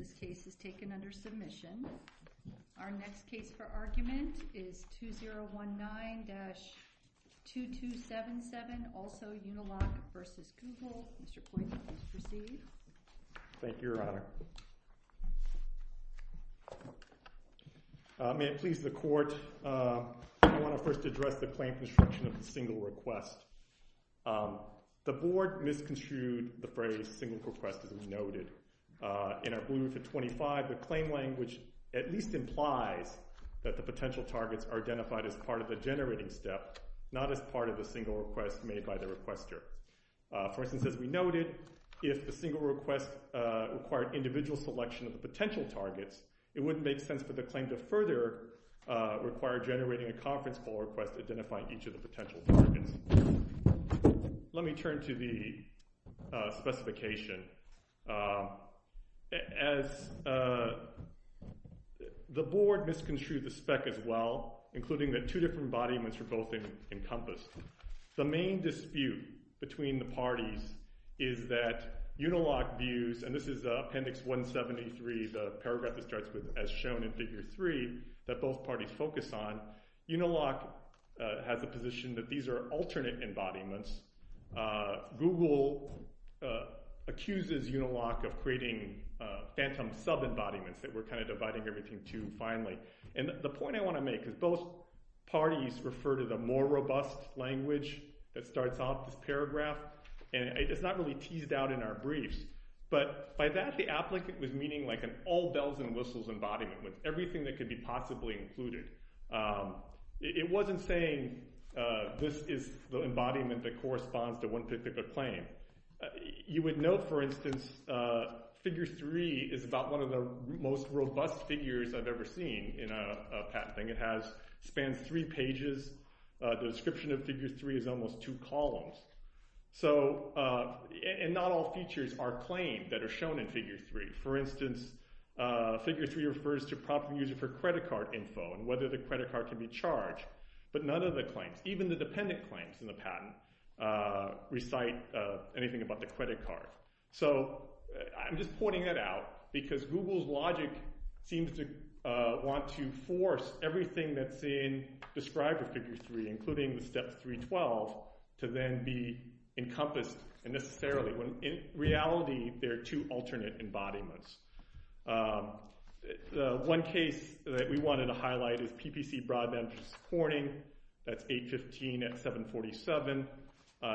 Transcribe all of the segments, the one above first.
This case is taken under submission. Our next case for argument is 2019-2277, also Uniloc v. Google. Mr. Poindexter, please proceed. Thank you, Your Honor. May it please the court, I wanna first address the claim construction of the single request. The board misconstrued the phrase single request as we noted. In our Blue Roof of 25, the claim language at least implies that the potential targets are identified as part of the generating step, not as part of the single request made by the requester. For instance, as we noted, if the single request required individual selection of the potential targets, it wouldn't make sense for the claim to further require generating a conference call request identifying each of the potential targets. Let me turn to the specification as the board misconstrued the spec as well, including that two different embodiments were both encompassed. The main dispute between the parties is that Uniloc views, and this is appendix 173, the paragraph that starts with as shown in figure three that both parties focus on, Uniloc has a position that these are alternate embodiments. Google accuses Uniloc of creating phantom sub-embodiments that we're kind of dividing everything to finally. And the point I wanna make is both parties refer to the more robust language that starts off this paragraph, and it's not really teased out in our briefs, but by that the applicant was meaning like an all bells and whistles embodiment with everything that could be possibly included. It wasn't saying this is the embodiment that corresponds to one particular claim. You would know, for instance, figure three is about one of the most robust figures I've ever seen in a patent thing. It spans three pages. The description of figure three is almost two columns. So, and not all features are claimed that are shown in figure three. For instance, figure three refers to proper user for credit card info and whether the credit card can be charged, but none of the claims, even the dependent claims in the patent recite anything about the credit card. So, I'm just pointing that out because Google's logic seems to want to force everything that's in described with figure three, including the step 312, to then be encompassed unnecessarily when in reality, they're two alternate embodiments. The one case that we wanted to highlight is PPC Broadband Corning. That's 815 at 747.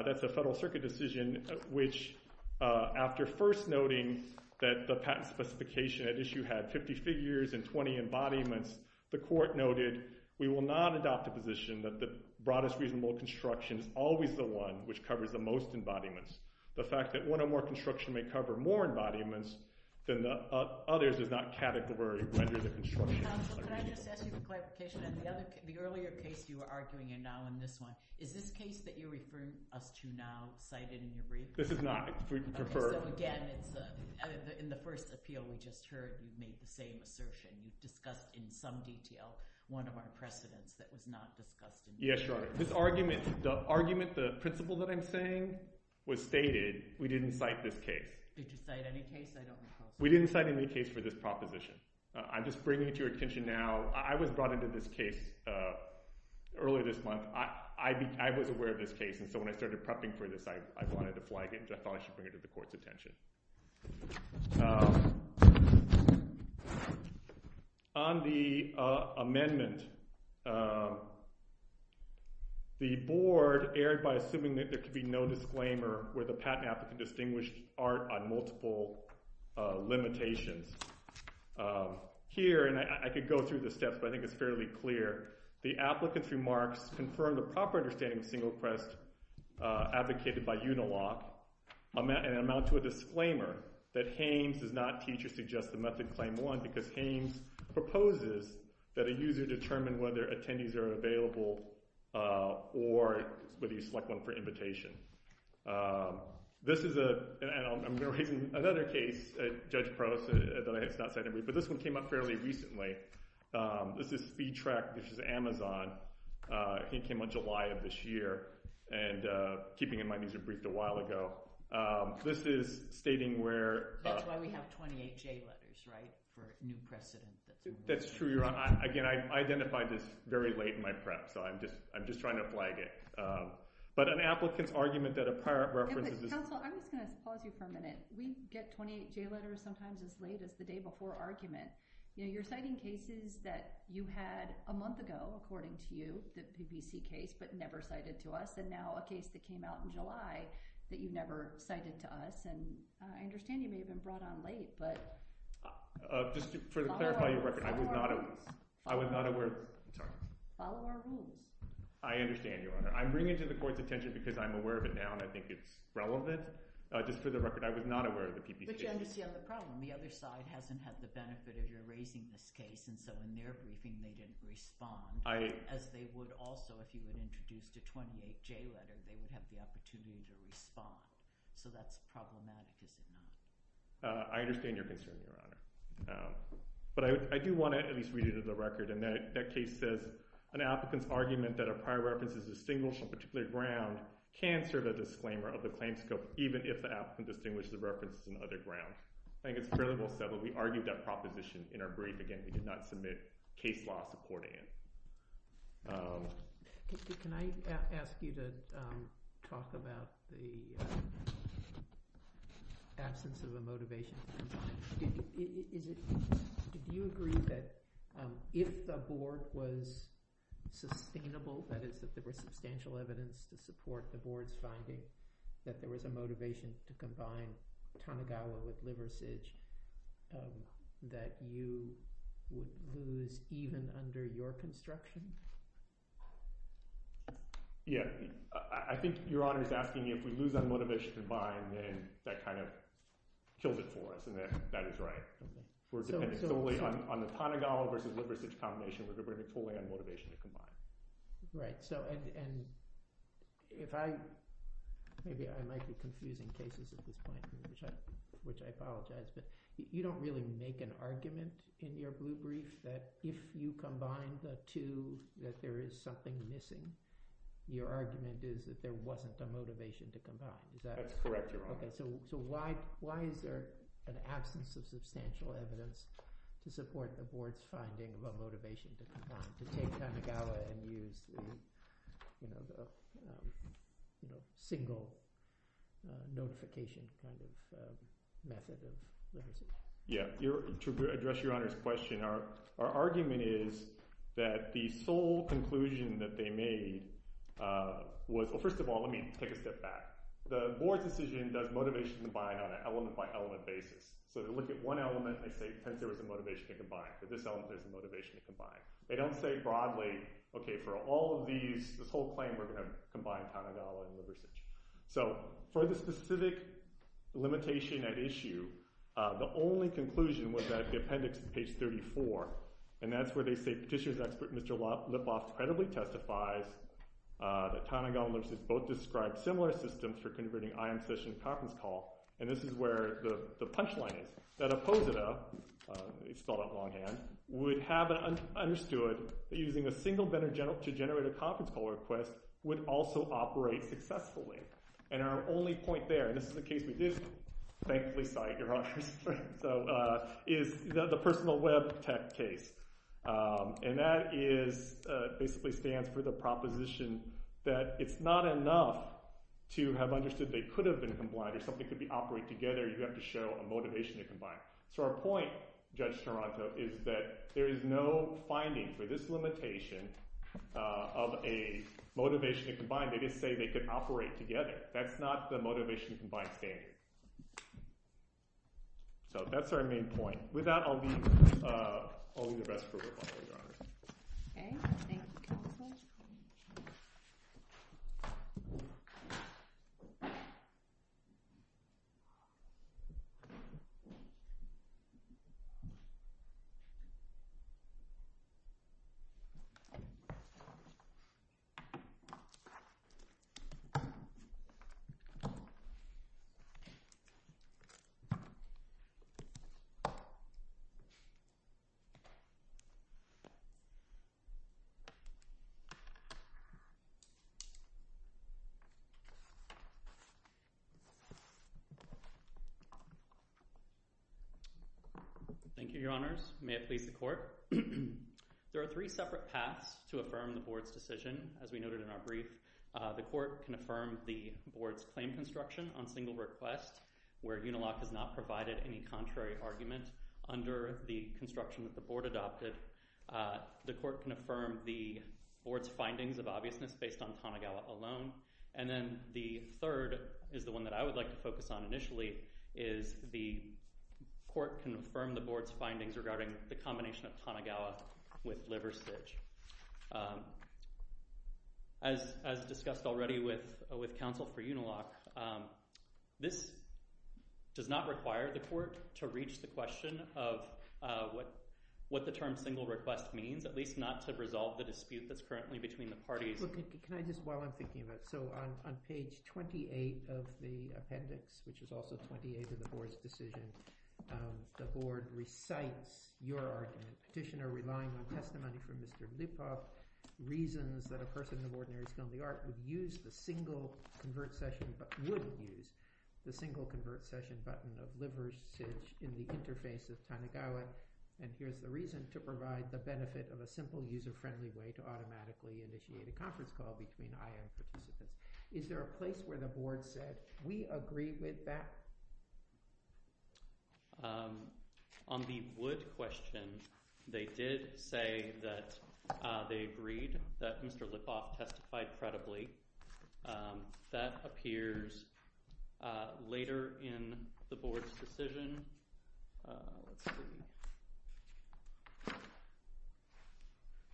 That's a federal circuit decision, which after first noting that the patent specification at issue had 50 figures and 20 embodiments, the court noted, we will not adopt a position that the broadest reasonable construction is always the one which covers the most embodiments. The fact that one or more construction may cover more embodiments than the others is not category under the construction. Counsel, could I just ask you for clarification on the earlier case you were arguing and now in this one, is this case that you're referring us to now cited in your brief? This is not. If we prefer. Okay, so again, in the first appeal, we just heard you've made the same assertion. You've discussed in some detail one of our precedents that was not discussed. Yes, Your Honor. This argument, the argument, the principle that I'm saying was stated, we didn't cite this case. Did you cite any case? I don't recall. We didn't cite any case for this proposition. I'm just bringing it to your attention now. I was brought into this case earlier this month. I was aware of this case. And so when I started prepping for this, I wanted to flag it. I thought I should bring it to the court's attention. On the amendment, the board erred by assuming that there could be no disclaimer where the patent applicant distinguished art on multiple limitations. Here, and I could go through the steps, but I think it's fairly clear, the applicant's remarks confirmed a proper understanding of single request advocated by Unilock and amount to a disclaimer that Hames does not teach or suggest the method claim one because Hames proposes that a user determine whether attendees are available or whether you select one for invitation. This is a, and I'm gonna raise another case, Judge Prost, that I have not cited. But this one came up fairly recently. This is SpeedTrack, which is Amazon. He came on July of this year. And keeping in mind, these were briefed a while ago. This is stating where- That's why we have 28 J letters, right? For new precedent. That's true, Your Honor. Again, I identified this very late in my prep. So I'm just trying to flag it. But an applicant's argument that a prior reference- Counsel, I'm just gonna pause you for a minute. We get 28 J letters sometimes as late as the day before argument. You're citing cases that you had a month ago, according to you, the PPC case, but never cited to us. And now a case that came out in July that you never cited to us. And I understand you may have been brought on late, but- Just to clarify your record, I was not aware. I was not aware, sorry. Follow our rules. I understand, Your Honor. I'm bringing it to the court's attention because I'm aware of it now and I think it's relevant. Just for the record, I was not aware of the PPC case. But you understand the problem. The other side hasn't had the benefit of your raising this case. And so in their briefing, they didn't respond. As they would also, if you had introduced a 28 J letter, they would have the opportunity to respond. So that's problematic, is it not? I understand your concern, Your Honor. But I do want to at least read it as a record. And that case says, an applicant's argument that a prior reference is distinguished on a particular ground can serve as a disclaimer of the claim scope, even if the applicant distinguished the references on other ground. I think it's fairly well said, but we argued that proposition in our brief. Again, we did not submit case law supporting it. Can I ask you to talk about the absence of a motivation? Did you agree that if the board was sustainable, that is, that there was substantial evidence to support the board's finding that there was a motivation to combine Tanigawa with Liversidge, that you would lose even under your construction? Yeah, I think Your Honor is asking me if we lose on motivation to combine, then that kind of kills it for us. And that is right. We're dependent solely on the Tanigawa versus Liversidge combination. We're depending totally on motivation to combine. Right, so, and if I, maybe I might be confusing cases at this point, which I apologize, but you don't really make an argument in your blue brief that if you combine the two, that there is something missing. Your argument is that there wasn't a motivation to combine. Is that? That's correct, Your Honor. Okay, so why is there an absence of substantial evidence to support the board's finding of a motivation to combine, to take Tanigawa and use the single notification kind of method of rehearsal? Yeah, to address Your Honor's question, our argument is that the sole conclusion that they made was, well, first of all, let me take a step back. The board's decision does motivation to combine on an element-by-element basis. So to look at one element, they say, hence, there was a motivation to combine. For this element, there's a motivation to combine. They don't say broadly, okay, for all of these, this whole claim, we're gonna combine Tanigawa and Liversidge. So for the specific limitation at issue, the only conclusion was that the appendix on page 34, and that's where they say Petitioner's expert, Mr. Lipoff, credibly testifies that Tanigawa and Liversidge both described similar systems for converting IM session to conference call, and this is where the punchline is. That Opposita, it's spelled out longhand, would have understood that using a single vendor to generate a conference call request would also operate successfully. And our only point there, and this is a case we did thankfully cite, Your Honor, so, is the personal web tech case. And that is, basically stands for the proposition that it's not enough to have understood they could have been combined or something could be operate together, you have to show a motivation to combine. So our point, Judge Taranto, is that there is no finding for this limitation of a motivation to combine, they just say they could operate together. That's not the motivation to combine standard. So that's our main point. With that, I'll leave the rest for rebuttal, Your Honor. Okay, thank you, counsel. Thank you. Thank you, Your Honors. So, there are three separate paths to affirm the board's decision, as we noted in our brief. The court can affirm the board's claim construction on single request, where Unilock has not provided any contrary argument under the construction that the board adopted. The court can affirm the board's findings of obviousness based on Tanigawa alone. And then the third is the one that I would like to focus on initially, is the court can affirm the board's findings regarding the combination of Tanigawa with Liversidge. As discussed already with counsel for Unilock, this does not require the court to reach the question of what the term single request means, at least not to resolve the dispute that's currently between the parties. Can I just, while I'm thinking of it, so on page 28 of the appendix, which is also 28 of the board's decision, the board recites your argument. Petitioner relying on testimony from Mr. Lipov, reasons that a person of ordinary skill in the art would use the single convert session, but wouldn't use the single convert session button of Liversidge in the interface of Tanigawa. And here's the reason, to provide the benefit of a simple user-friendly way to automatically initiate a conference call between IM participants. Is there a place where the board said, we agree with that? On the Wood question, they did say that they agreed that Mr. Lipov testified credibly. That appears later in the board's decision. Let's see.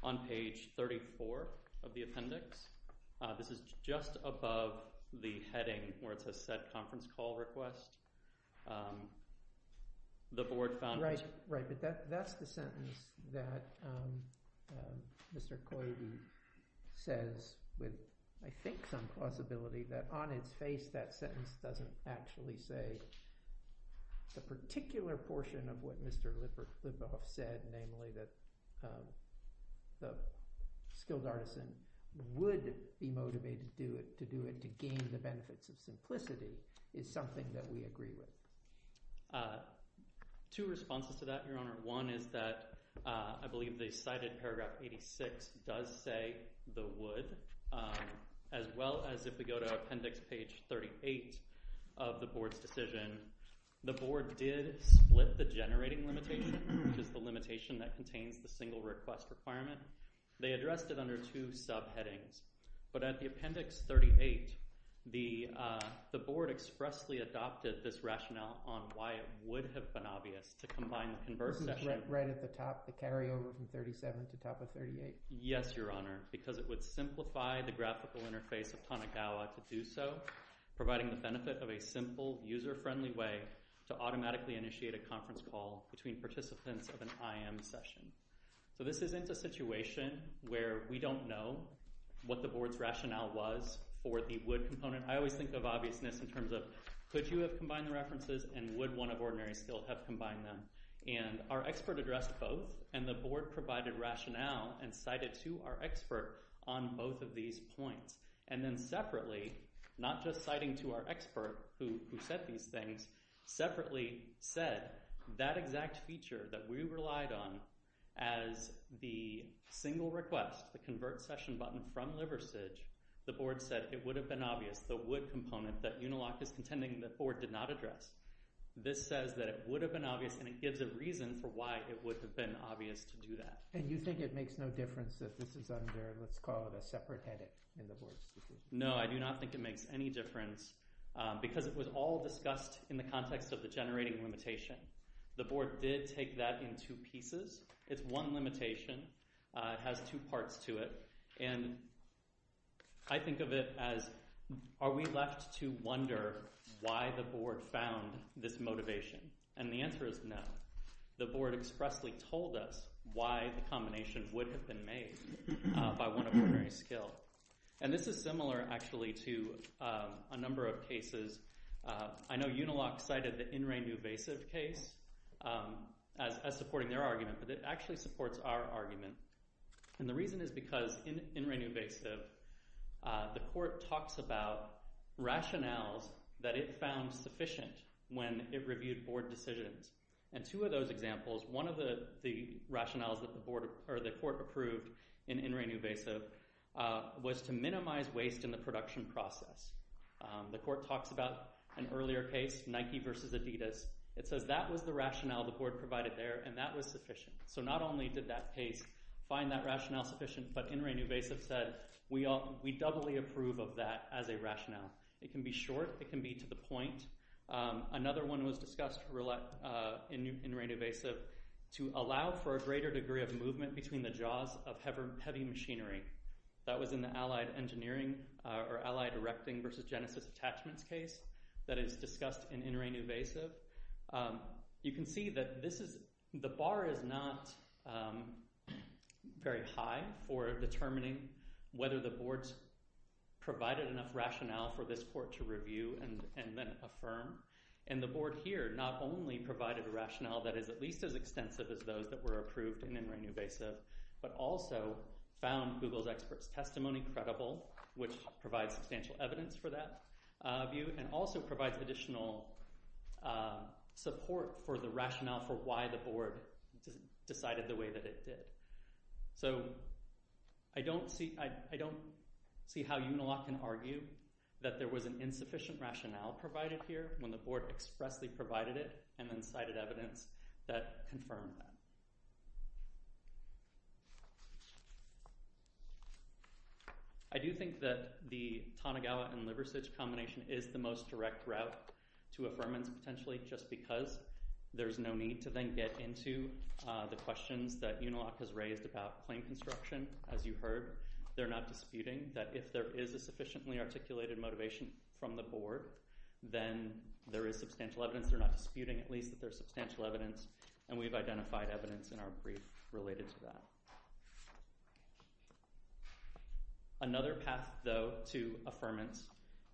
On page 34 of the appendix, this is just above the heading where it says set conference call request. The board found it. Right, but that's the sentence that Mr. Coide says, with I think some plausibility, that on its face, that sentence doesn't actually say the particular portion of what Mr. Lipov said, namely that the skilled artisan would be motivated to do it to gain the benefits of simplicity is something that we agree with. Two responses to that, Your Honor. One is that I believe they cited paragraph 86 does say the Wood, as well as if we go to appendix page 38 of the board's decision, the board did split the generating limitation, which is the limitation that contains the single request requirement. They addressed it under two subheadings. But at the appendix 38, the board expressly adopted this rationale on why it would have been obvious to combine the converse session. This is right at the top, the carryover from 37 to top of 38. Yes, Your Honor, because it would simplify the graphical interface of Tanigawa to do so, providing the benefit of a simple user-friendly way to automatically initiate a conference call between participants of an IM session. So this isn't a situation where we don't know what the board's rationale was for the Wood component. I always think of obviousness in terms of, could you have combined the references and would one of ordinary still have combined them? And our expert addressed both and the board provided rationale and cited to our expert on both of these points. And then separately, not just citing to our expert who said these things, separately said that exact feature that we relied on as the single request, the convert session button from Liversidge, the board said it would have been obvious the Wood component that Unilock is contending the board did not address. This says that it would have been obvious and it gives a reason for why it would have been obvious to do that. And you think it makes no difference if this is under, let's call it a separate headache in the board's decision? No, I do not think it makes any difference because it was all discussed in the context of the generating limitation. The board did take that in two pieces. It's one limitation, it has two parts to it. And I think of it as, are we left to wonder why the board found this motivation? And the answer is no. The board expressly told us why the combination would have been made by one of ordinary skill. And this is similar actually to a number of cases. I know Unilock cited the In Re Nuvasive case as supporting their argument, but it actually supports our argument. And the reason is because in In Re Nuvasive, the court talks about rationales that it found sufficient when it reviewed board decisions. And two of those examples, one of the rationales that the court approved in In Re Nuvasive was to minimize waste in the production process. The court talks about an earlier case, Nike versus Adidas. It says that was the rationale the board provided there and that was sufficient. So not only did that case find that rationale sufficient, but In Re Nuvasive said, we doubly approve of that as a rationale. It can be short, it can be to the point. Another one was discussed in In Re Nuvasive to allow for a greater degree of movement between the jaws of heavy machinery. That was in the Allied Engineering or Allied Erecting versus Genesis Attachments case that is discussed in In Re Nuvasive. You can see that the bar is not very high for determining whether the boards provided enough rationale for this court to review and then affirm. And the board here not only provided a rationale that is at least as extensive as those that were approved in In Re Nuvasive, but also found Google's experts' testimony credible, which provides substantial evidence for that view and also provides additional support for the rationale for why the board decided the way that it did. So I don't see how Unilock can argue that there was an insufficient rationale provided here when the board expressly provided it and then cited evidence that confirmed that. I do think that the Tanigawa and Liversidge combination is the most direct route to affirmance potentially just because there's no need to then get into the questions that Unilock has raised about claim construction. As you heard, they're not disputing that if there is a sufficiently articulated motivation from the board, then there is substantial evidence. They're not disputing at least that there's substantial evidence and we've identified evidence in our brief related to that. Another path, though, to affirmance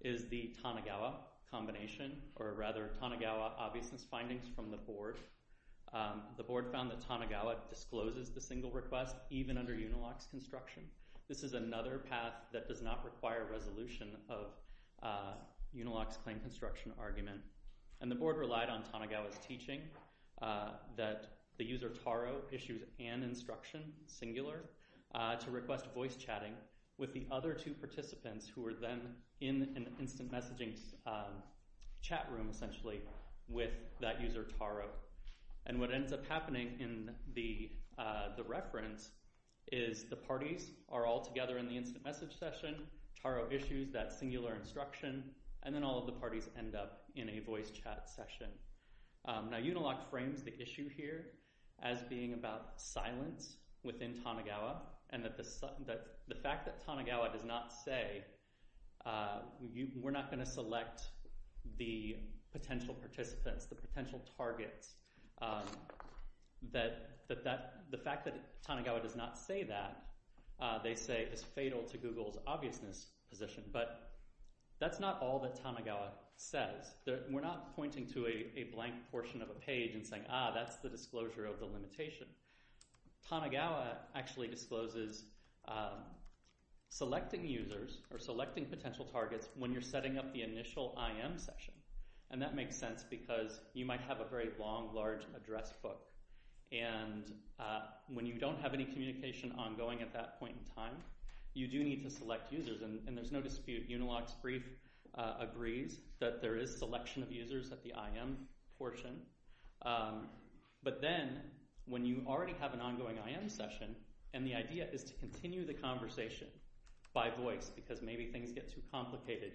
is the Tanigawa combination, or rather Tanigawa obviousness findings from the board. The board found that Tanigawa discloses the single request even under Unilock's construction. This is another path that does not require resolution of Unilock's claim construction argument. And the board relied on Tanigawa's teaching that the user Taro issues an instruction single request singular to request voice chatting with the other two participants who were then in an instant messaging chat room essentially with that user Taro. And what ends up happening in the reference is the parties are all together in the instant message session, Taro issues that singular instruction, and then all of the parties end up in a voice chat session. Now, Unilock frames the issue here as being about silence within Tanigawa and that the fact that Tanigawa does not say, we're not gonna select the potential participants, the potential targets, that the fact that Tanigawa does not say that, they say is fatal to Google's obviousness position. But that's not all that Tanigawa says. We're not pointing to a blank portion of a page and saying, ah, that's the disclosure of the limitation. Tanigawa actually discloses selecting users or selecting potential targets when you're setting up the initial IM session. And that makes sense because you might have a very long, large address book. And when you don't have any communication ongoing at that point in time, you do need to select users. And there's no dispute, Unilock's brief agrees that there is selection of users at the IM portion. But then, when you already have an ongoing IM session, and the idea is to continue the conversation by voice because maybe things get too complicated,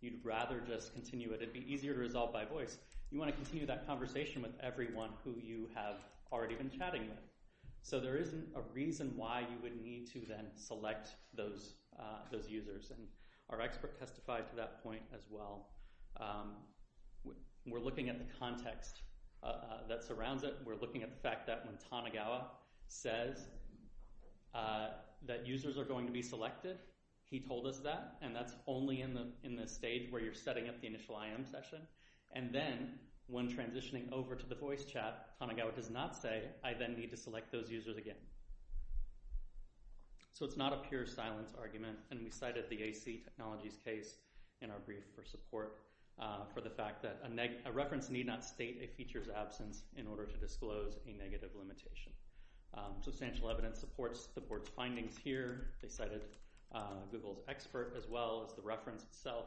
you'd rather just continue it, it'd be easier to resolve by voice, you wanna continue that conversation with everyone who you have already been chatting with. So there isn't a reason why you would need to then select those users. And our expert testified to that point as well. We're looking at the context that surrounds it. We're looking at the fact that when Tanigawa says that users are going to be selected, he told us that. And that's only in the stage where you're setting up the initial IM session. And then, when transitioning over to the voice chat, Tanigawa does not say, I then need to select those users again. So it's not a pure silence argument. And we cited the AC Technologies case in our brief for support. For the fact that a reference need not state a feature's absence in order to disclose a negative limitation. Substantial evidence supports the board's findings here. They cited Google's expert as well as the reference itself.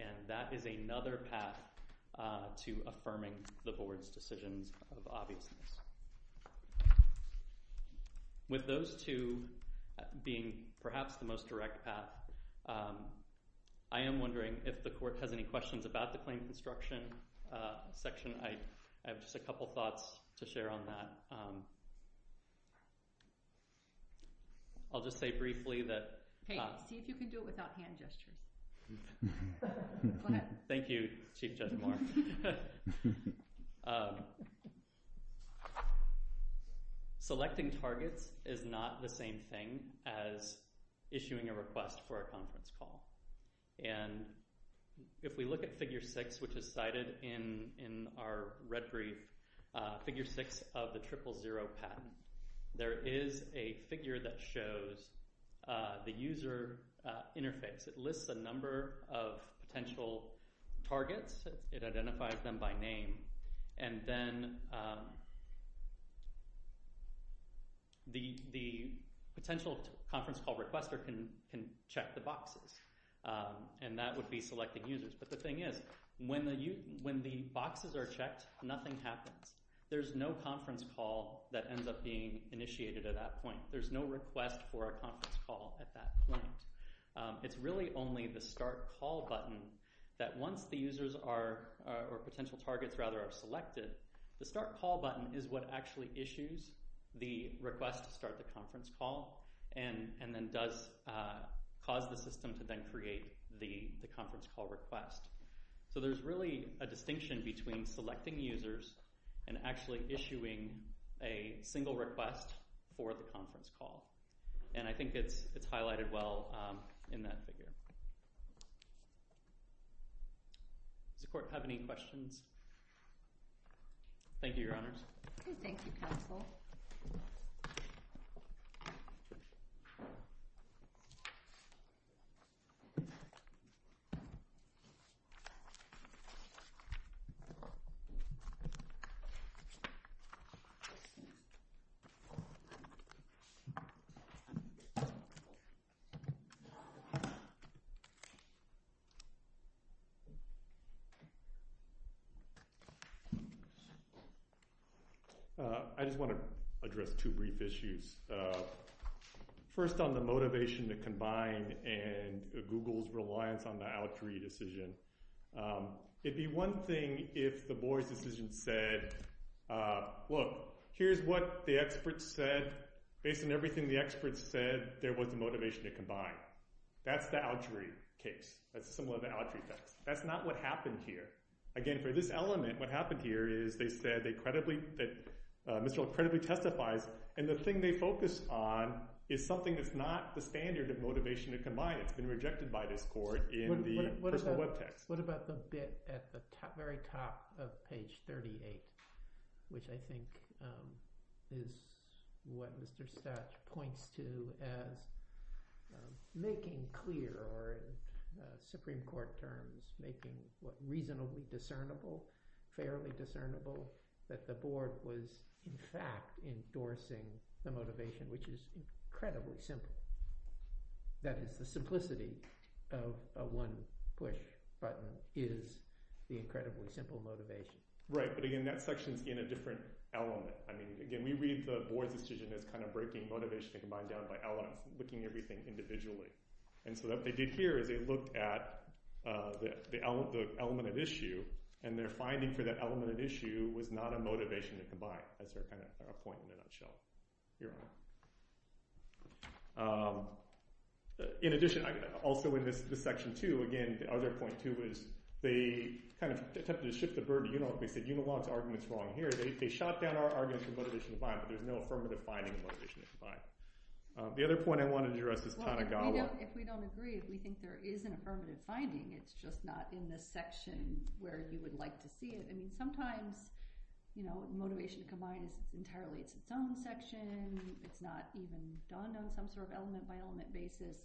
And that is another path to affirming the board's decisions of obviousness. With those two being perhaps the most direct path, I am wondering if the court has any questions about the claim construction section. I have just a couple thoughts to share on that. I'll just say briefly that- Hey, see if you can do it without hand gestures. Thank you, Chief Judge Moore. Selecting targets is not the same thing as issuing a request for a conference call. And if we look at figure six, which is cited in our red brief, figure six of the triple zero patent, there is a figure that shows the user interface. It lists a number of potential targets. It identifies them by name. And then, the potential conference call requester can check the boxes. And that would be selecting users. But the thing is, when the boxes are checked, nothing happens. There's no conference call that ends up being initiated at that point. There's no request for a conference call at that point. It's really only the start call button that once the users are, or potential targets rather are selected, the start call button is what actually issues the request to start the conference call, and then does cause the system to then create the conference call request. So there's really a distinction between selecting users and actually issuing a single request for the conference call. And I think it's highlighted well in that figure. Does the court have any questions? Thank you, Your Honors. I just want to address two brief issues. First, on the motivation to combine and Google's reliance on the Autry decision. It'd be one thing if the Boies decision said, look, here's what the experts said. Based on everything the experts said, there was a motivation to combine. That's the Autry case. That's similar to the Autry case. That's not what happened here. Again, for this element, what happened here is they said they credibly, that Mr. Ault credibly testifies, and the thing they focus on is something that's not the standard of motivation to combine. It's been rejected by this court in the personal web text. What about the bit at the very top of page 38, which I think is what Mr. Stach points to as making clear, or in Supreme Court terms, making what reasonably discernible, fairly discernible, that the board was in fact endorsing the motivation, which is incredibly simple. That is, the simplicity of a one-push button is the incredibly simple motivation. Right, but again, that section's in a different element. I mean, again, we read the Boies decision as kind of breaking motivation to combine down by elements, looking at everything individually. And so what they did here is they looked at the element of issue, and their finding for that element of issue was not a motivation to combine. That's their kind of point in a nutshell. Your Honor. In addition, also in this section two, again, the other point too is they kind of attempted to ship the bird to Unilog. They said Unilog's argument's wrong here. They shot down our argument for motivation to combine, but there's no affirmative finding of motivation to combine. The other point I wanted to address is Tanigawa. Yeah, if we don't agree, if we think there is an affirmative finding, it's just not in this section where you would like to see it. I mean, sometimes, you know, motivation to combine is entirely, it's its own section. It's not even done on some sort of element by element basis.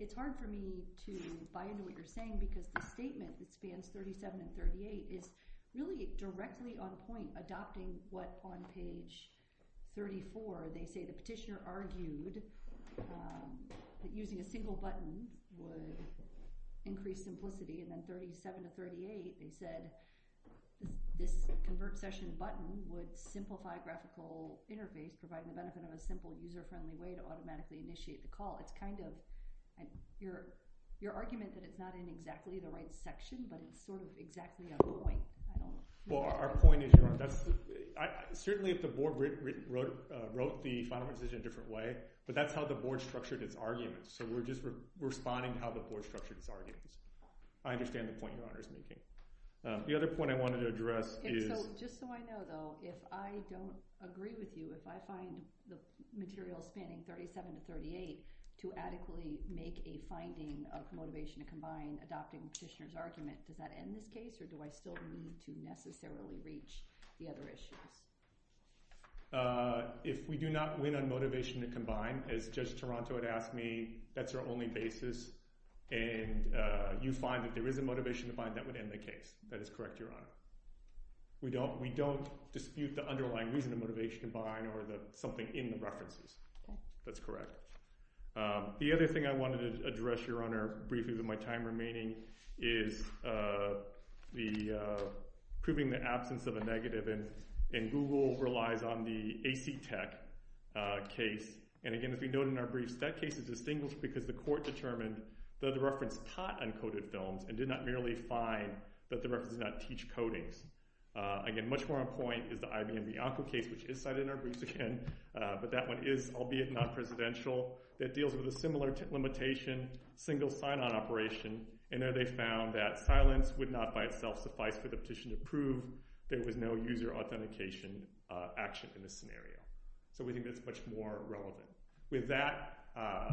It's hard for me to buy into what you're saying because the statement that spans 37 and 38 is really directly on point, adopting what on page 34 they say the petitioner argued, that using a single button would increase simplicity, and then 37 to 38, they said this convert session button would simplify graphical interface, provide the benefit of a simple user-friendly way to automatically initiate the call. It's kind of, your argument that it's not in exactly the right section, but it's sort of exactly on point. I don't know. Well, our point is, Your Honor, certainly if the board wrote the final decision in a different way, but that's how the board structured its arguments. So we're just responding to how the board structured its arguments. I understand the point Your Honor is making. The other point I wanted to address is- Just so I know, though, if I don't agree with you, if I find the material spanning 37 to 38 to adequately make a finding of motivation to combine adopting petitioner's argument, does that end this case, or do I still need to necessarily reach the other issues? If we do not win on motivation to combine, as Judge Toronto had asked me, that's our only basis. And you find that there is a motivation to bind, that would end the case. That is correct, Your Honor. We don't dispute the underlying reason of motivation to bind or something in the references. That's correct. The other thing I wanted to address, Your Honor, briefly with my time remaining, is the proving the absence of a negative and Google relies on the AC Tech case. And again, as we noted in our briefs, that case is distinguished because the court determined that the reference taught uncoded films and did not merely find that the reference did not teach codings. Again, much more on point is the IBM Bianco case, which is cited in our briefs again, but that one is, albeit non-presidential, that deals with a similar limitation, single sign-on operation. And there they found that silence would not by itself suffice for the petition to prove there was no user authentication action in this scenario. So we think that's much more relevant. With that,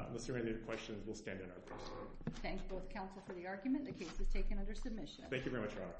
unless there are any other questions, we'll stand on our person. Thanks both counsel for the argument. The case is taken under submission. Thank you very much, Your Honor.